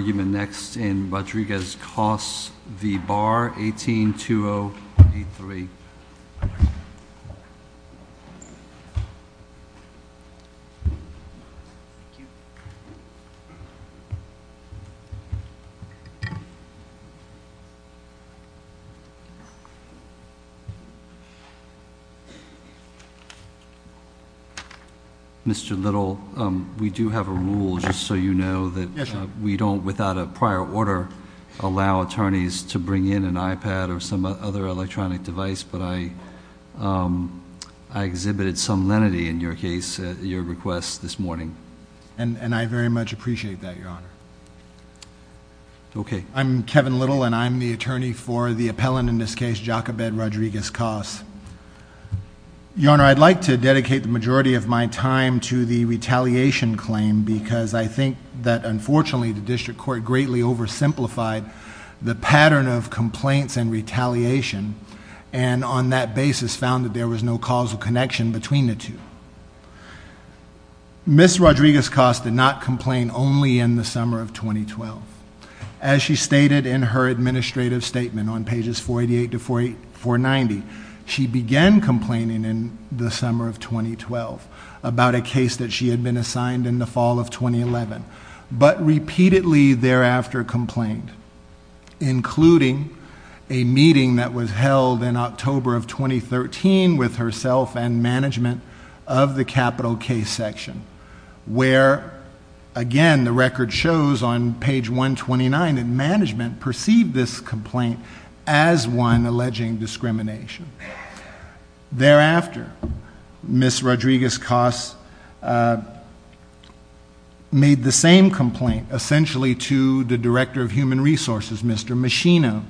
18-2-0-8-3 Mr. Little, we do have a rule just so you know that we don't withhold money from without a prior order allow attorneys to bring in an iPad or some other electronic device, but I exhibited some lenity in your case, your request this morning. And I very much appreciate that, Your Honor. Okay. I'm Kevin Little, and I'm the attorney for the appellant in this case, Jacobed Rodriguez-Coss. Your Honor, I'd like to dedicate the majority of my time to the retaliation claim because I think that unfortunately the district court greatly oversimplified the pattern of complaints and retaliation, and on that basis found that there was no causal connection between the two. Ms. Rodriguez-Coss did not complain only in the summer of 2012. As she stated in her administrative statement on pages 488 to 490, she began complaining in the summer of 2012 about a case that she had been assigned in the fall of 2011, but repeatedly thereafter complained, including a meeting that was held in October of 2013 with herself and management of the capital case section, where, again, the record shows on page 129 that management perceived this complaint as one alleging discrimination. Thereafter, Ms. Rodriguez-Coss made the same complaint essentially to the director of human resources, Mr. Machino.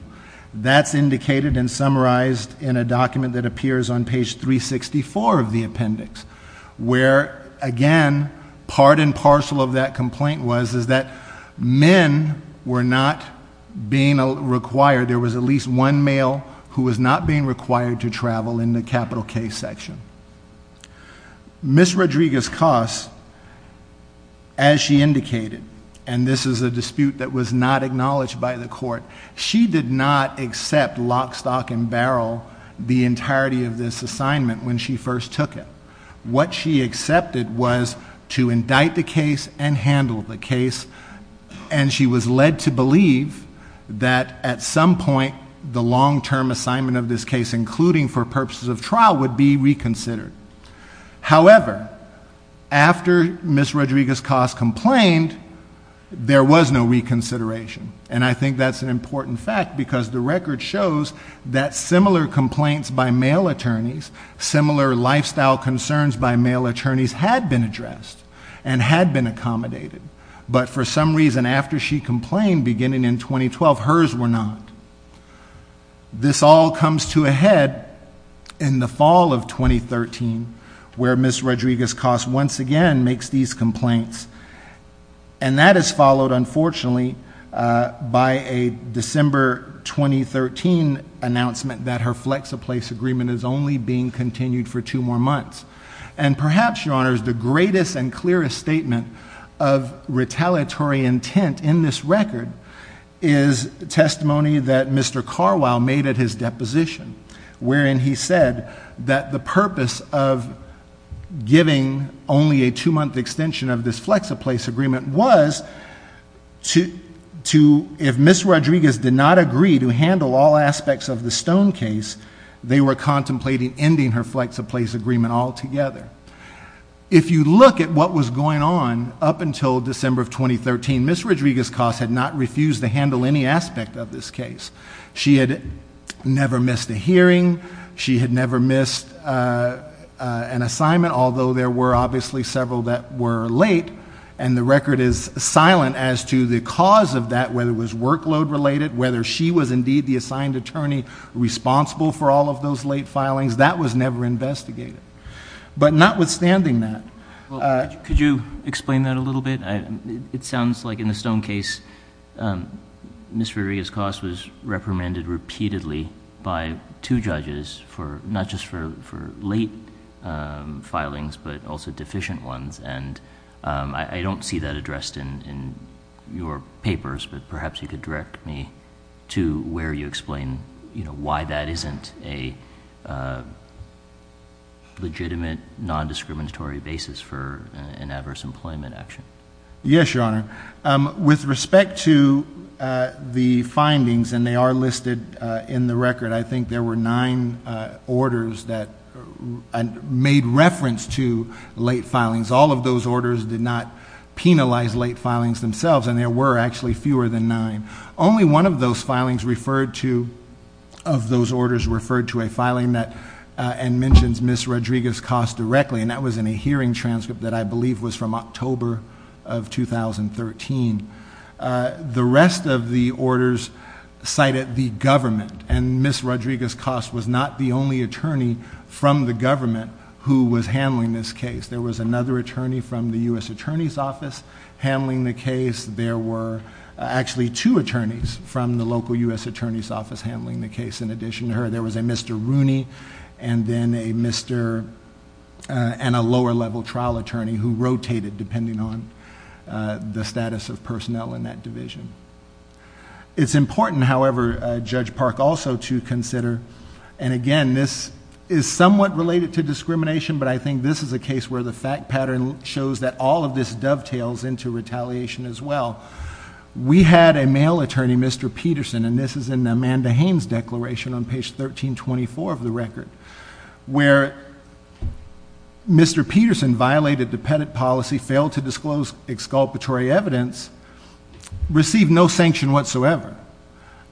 That's indicated and summarized in a document that appears on page 364 of the appendix, where, again, part and parcel of that complaint was that men were not being required. There was at least one male who was not being required to travel in the capital case section. Ms. Rodriguez-Coss, as she indicated, and this is a dispute that was not acknowledged by the court, she did not accept lock, stock, and barrel the entirety of this assignment when she first took it. What she accepted was to indict the case and handle the case, and she was led to believe that at some point the long-term assignment of this case, including for purposes of trial, would be reconsidered. However, after Ms. Rodriguez-Coss complained, there was no reconsideration, and I think that's an important fact because the record shows that similar complaints by male attorneys, similar lifestyle concerns by male attorneys had been addressed and had been accommodated, but for some reason after she complained, beginning in 2012, hers were not. This all comes to a head in the fall of 2013, where Ms. Rodriguez-Coss once again makes these complaints, and that is followed, unfortunately, by a December 2013 announcement that her flex-a-place agreement is only being continued for two more months. And perhaps, Your Honors, the greatest and clearest statement of retaliatory intent in this record is testimony that Mr. Carwile made at his deposition, wherein he said that the purpose of giving only a two-month extension of this flex-a-place agreement was to, if Ms. Rodriguez did not agree to handle all aspects of the Stone case, they were contemplating ending her flex-a-place agreement altogether. If you look at what was going on up until December of 2013, Ms. Rodriguez-Coss had not refused to handle any aspect of this case. She had never missed a hearing. She had never missed an assignment, although there were obviously several that were late, and the record is silent as to the cause of that, whether it was workload-related, whether she was indeed the assigned attorney responsible for all of those late filings. That was never investigated. But notwithstanding that... Could you explain that a little bit? It sounds like in the Stone case, Ms. Rodriguez-Coss was reprimanded repeatedly by two judges, not just for late filings but also deficient ones, and I don't see that addressed in your papers, but perhaps you could direct me to where you explain why that isn't a legitimate, non-discriminatory basis for an adverse employment action. Yes, Your Honor. With respect to the findings, and they are listed in the record, I think there were nine orders that made reference to late filings. All of those orders did not penalize late filings themselves, and there were actually fewer than nine. Only one of those orders referred to a filing that mentions Ms. Rodriguez-Coss directly, and that was in a hearing transcript that I believe was from October of 2013. The rest of the orders cited the government, and Ms. Rodriguez-Coss was not the only attorney from the government who was handling this case. There was another attorney from the U.S. Attorney's Office handling the case. There were actually two attorneys from the local U.S. Attorney's Office handling the case in addition to her. There was a Mr. Rooney and a lower-level trial attorney who rotated depending on the status of personnel in that division. It's important, however, Judge Park, also to consider, and again, this is somewhat related to discrimination, but I think this is a case where the fact pattern shows that all of this dovetails into retaliation as well. We had a male attorney, Mr. Peterson, and this is in Amanda Haynes' declaration on page 1324 of the record, where Mr. Peterson violated the Pettit policy, failed to disclose exculpatory evidence, received no sanction whatsoever.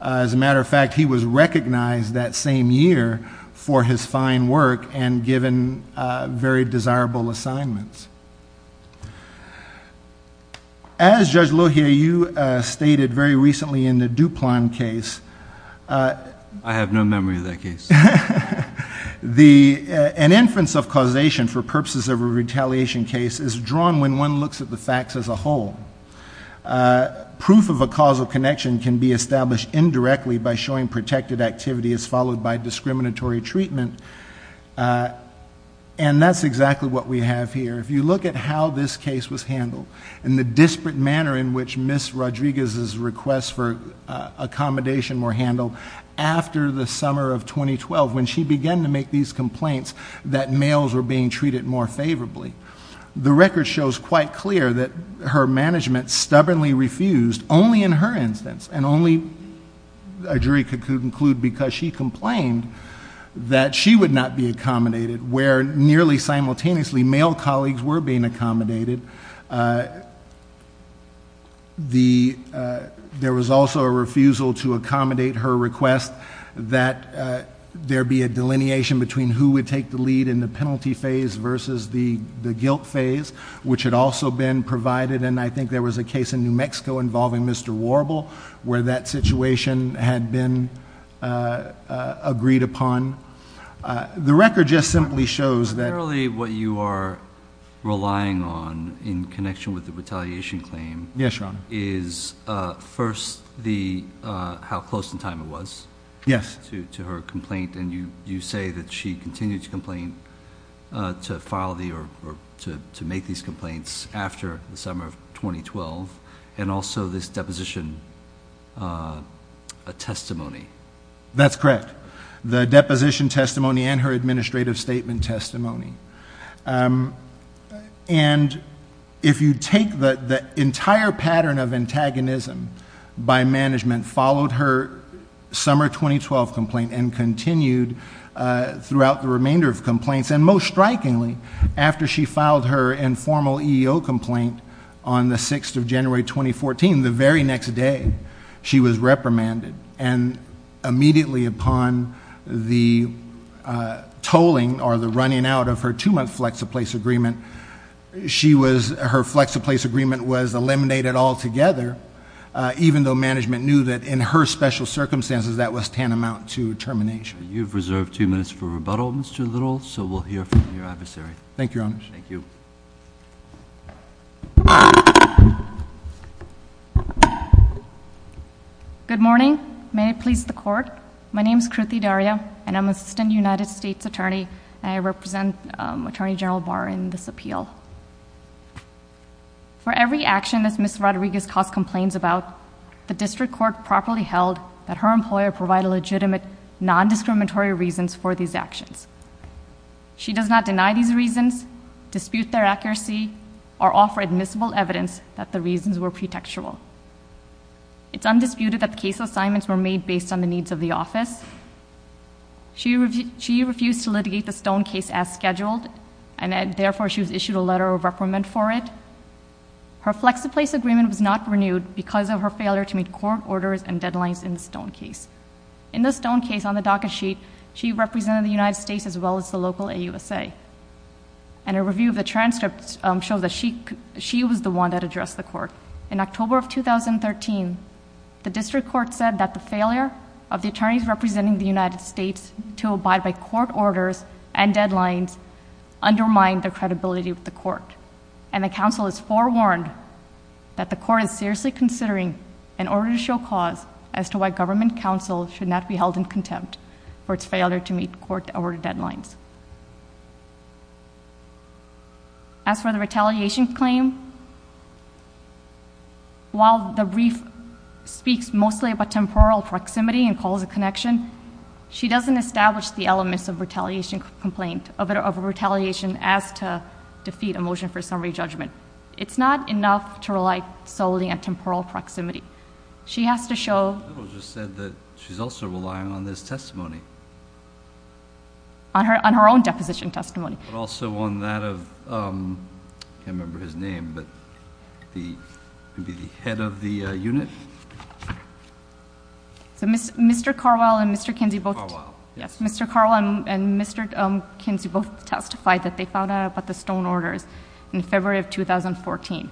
As a matter of fact, he was recognized that same year for his fine work and given very desirable assignments. As Judge Lohier, you stated very recently in the Duplan case. I have no memory of that case. An inference of causation for purposes of a retaliation case is drawn when one looks at the facts as a whole. Proof of a causal connection can be established indirectly by showing protected activity as followed by discriminatory treatment, and that's exactly what we have here. If you look at how this case was handled and the disparate manner in which Ms. Rodriguez's requests for accommodation were handled after the summer of 2012 when she began to make these complaints that males were being treated more favorably, the record shows quite clear that her management stubbornly refused only in her instance and only a jury could conclude because she complained that she would not be accommodated where nearly simultaneously male colleagues were being accommodated. There was also a refusal to accommodate her request that there be a delineation between who would take the lead in the penalty phase versus the guilt phase, which had also been provided, and I think there was a case in New Mexico involving Mr. Warble where that situation had been agreed upon. The record just simply shows that— Apparently what you are relying on in connection with the retaliation claim— Yes, Your Honor. —is first how close in time it was to her complaint, and you say that she continued to complain to file or to make these complaints after the summer of 2012, and also this deposition testimony. That's correct, the deposition testimony and her administrative statement testimony. And if you take the entire pattern of antagonism by management, followed her summer 2012 complaint and continued throughout the remainder of complaints, and most strikingly, after she filed her informal EEO complaint on the 6th of January 2014, the very next day she was reprimanded, and immediately upon the tolling or the running out of her two-month flex-a-place agreement, her flex-a-place agreement was eliminated altogether, even though management knew that in her special circumstances that was tantamount to termination. You've reserved two minutes for rebuttal, Mr. Little, so we'll hear from your adversary. Thank you, Your Honor. Thank you. Good morning. May it please the Court. My name is Kruthi Daria, and I'm an assistant United States attorney, and I represent Attorney General Barr in this appeal. For every action that Ms. Rodriguez caused complaints about, the district court properly held that her employer provided legitimate, non-discriminatory reasons for these actions. She does not deny these reasons, dispute their accuracy, or offer admissible evidence that the reasons were pretextual. It's undisputed that the case assignments were made based on the needs of the office. She refused to litigate the Stone case as scheduled, and therefore she was issued a letter of reprimand for it. Her flex-a-place agreement was not renewed because of her failure to meet court orders and deadlines in the Stone case. In the Stone case, on the docket sheet, she represented the United States as well as the local AUSA, and a review of the transcript shows that she was the one that addressed the court. In October of 2013, the district court said that the failure of the attorneys representing the United States to abide by court orders and deadlines undermined their credibility with the court, and the counsel is forewarned that the court is seriously considering an order to show cause as to why government counsel should not be held in contempt for its failure to meet court order deadlines. As for the retaliation claim, while the brief speaks mostly about temporal proximity and calls a connection, she doesn't establish the elements of retaliation complaint, of retaliation as to defeat a motion for summary judgment. It's not enough to rely solely on temporal proximity. She has to show... The judge just said that she's also relying on this testimony. On her own deposition testimony. But also on that of... I can't remember his name, but maybe the head of the unit? Mr. Carwell and Mr. Kinsey both... Carwell. Yes, Mr. Carwell and Mr. Kinsey both testified that they found out about the Stone orders in February of 2014.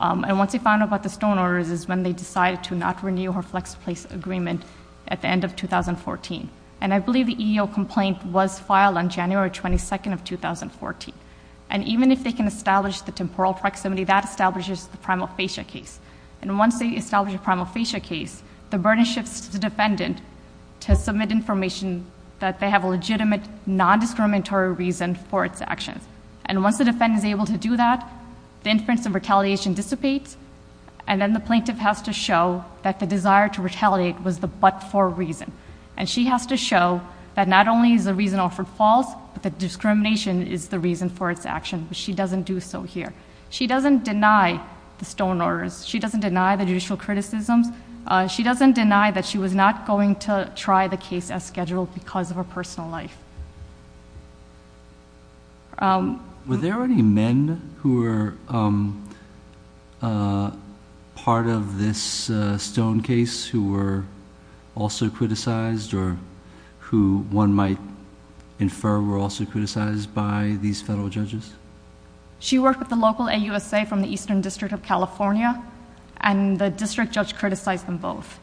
And what they found out about the Stone orders is when they decided to not renew her flex place agreement at the end of 2014. And I believe the EEO complaint was filed on January 22nd of 2014. And even if they can establish the temporal proximity, that establishes the primal fascia case. And once they establish a primal fascia case, the burden shifts to the defendant to submit information that they have a legitimate, non-discriminatory reason for its actions. And once the defendant is able to do that, the influence of retaliation dissipates. And then the plaintiff has to show that the desire to retaliate was the but-for reason. And she has to show that not only is the reason offered false, but that discrimination is the reason for its action. But she doesn't do so here. She doesn't deny the Stone orders. She doesn't deny the judicial criticisms. She doesn't deny that she was not going to try the case as scheduled because of her personal life. Were there any men who were part of this Stone case who were also criticized, or who one might infer were also criticized by these federal judges? She worked with the local AUSA from the Eastern District of California, and the district judge criticized them both.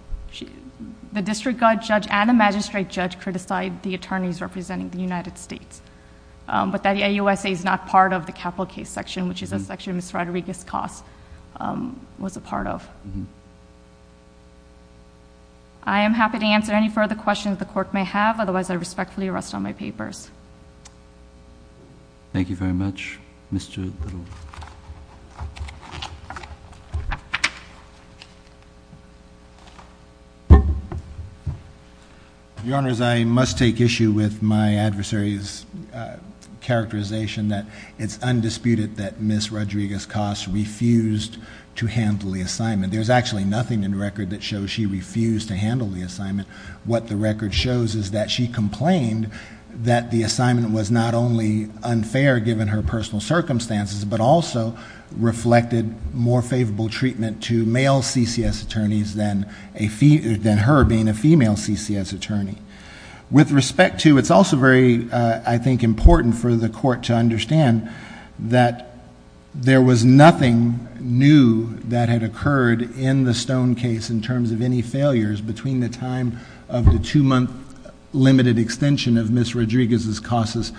The district judge and the magistrate judge criticized the attorneys representing the United States, but that the AUSA is not part of the capital case section, which is a section Ms. Rodriguez-Coste was a part of. I am happy to answer any further questions the Court may have. Otherwise, I respectfully rest on my papers. Thank you very much, Ms. Little. Your Honors, I must take issue with my adversary's characterization that it's undisputed that Ms. Rodriguez-Coste refused to handle the assignment. There's actually nothing in the record that shows she refused to handle the assignment. What the record shows is that she complained that the assignment was not only unfair given her personal circumstances, but also reflected more favorable treatment to male CCS attorneys than her being a female CCS attorney. With respect to, it's also very, I think, important for the Court to understand that there was nothing new that had occurred in the Stone case in terms of any failures between the time of the two-month limited extension of Ms. Rodriguez-Coste's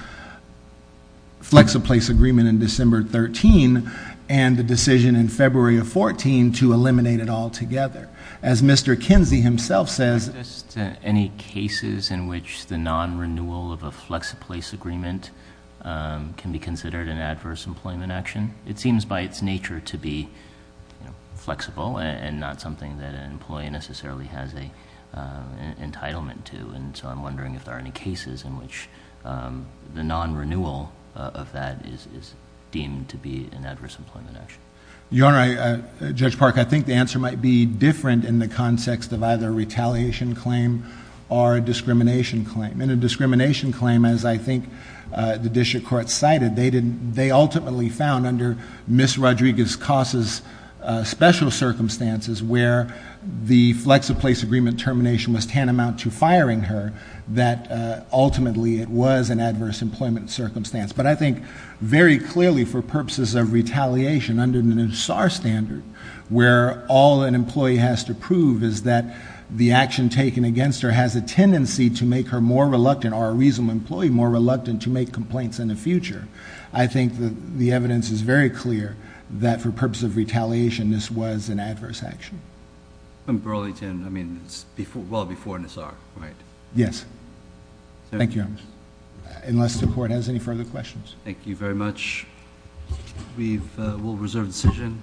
flex-a-place agreement in December 13 and the decision in February of 14 to eliminate it altogether. As Mr. Kinsey himself says- Are there any cases in which the non-renewal of a flex-a-place agreement can be considered an adverse employment action? It seems by its nature to be flexible and not something that an employee necessarily has an entitlement to. I'm wondering if there are any cases in which the non-renewal of that is deemed to be an adverse employment action. Your Honor, Judge Park, I think the answer might be different in the context of either a retaliation claim or a discrimination claim. In a discrimination claim, as I think the district court cited, they ultimately found under Ms. Rodriguez-Coste's special circumstances where the flex-a-place agreement termination was tantamount to firing her, that ultimately it was an adverse employment circumstance. But I think very clearly for purposes of retaliation under the new SAR standard where all an employee has to prove is that the action taken against her has a tendency to make her more reluctant, or a reasonable employee, more reluctant to make complaints in the future, I think the evidence is very clear that for purposes of retaliation this was an adverse action. And Burlington, I mean, well before the SAR, right? Yes. Thank you, Your Honor. Unless the court has any further questions. Thank you very much. We will reserve the decision.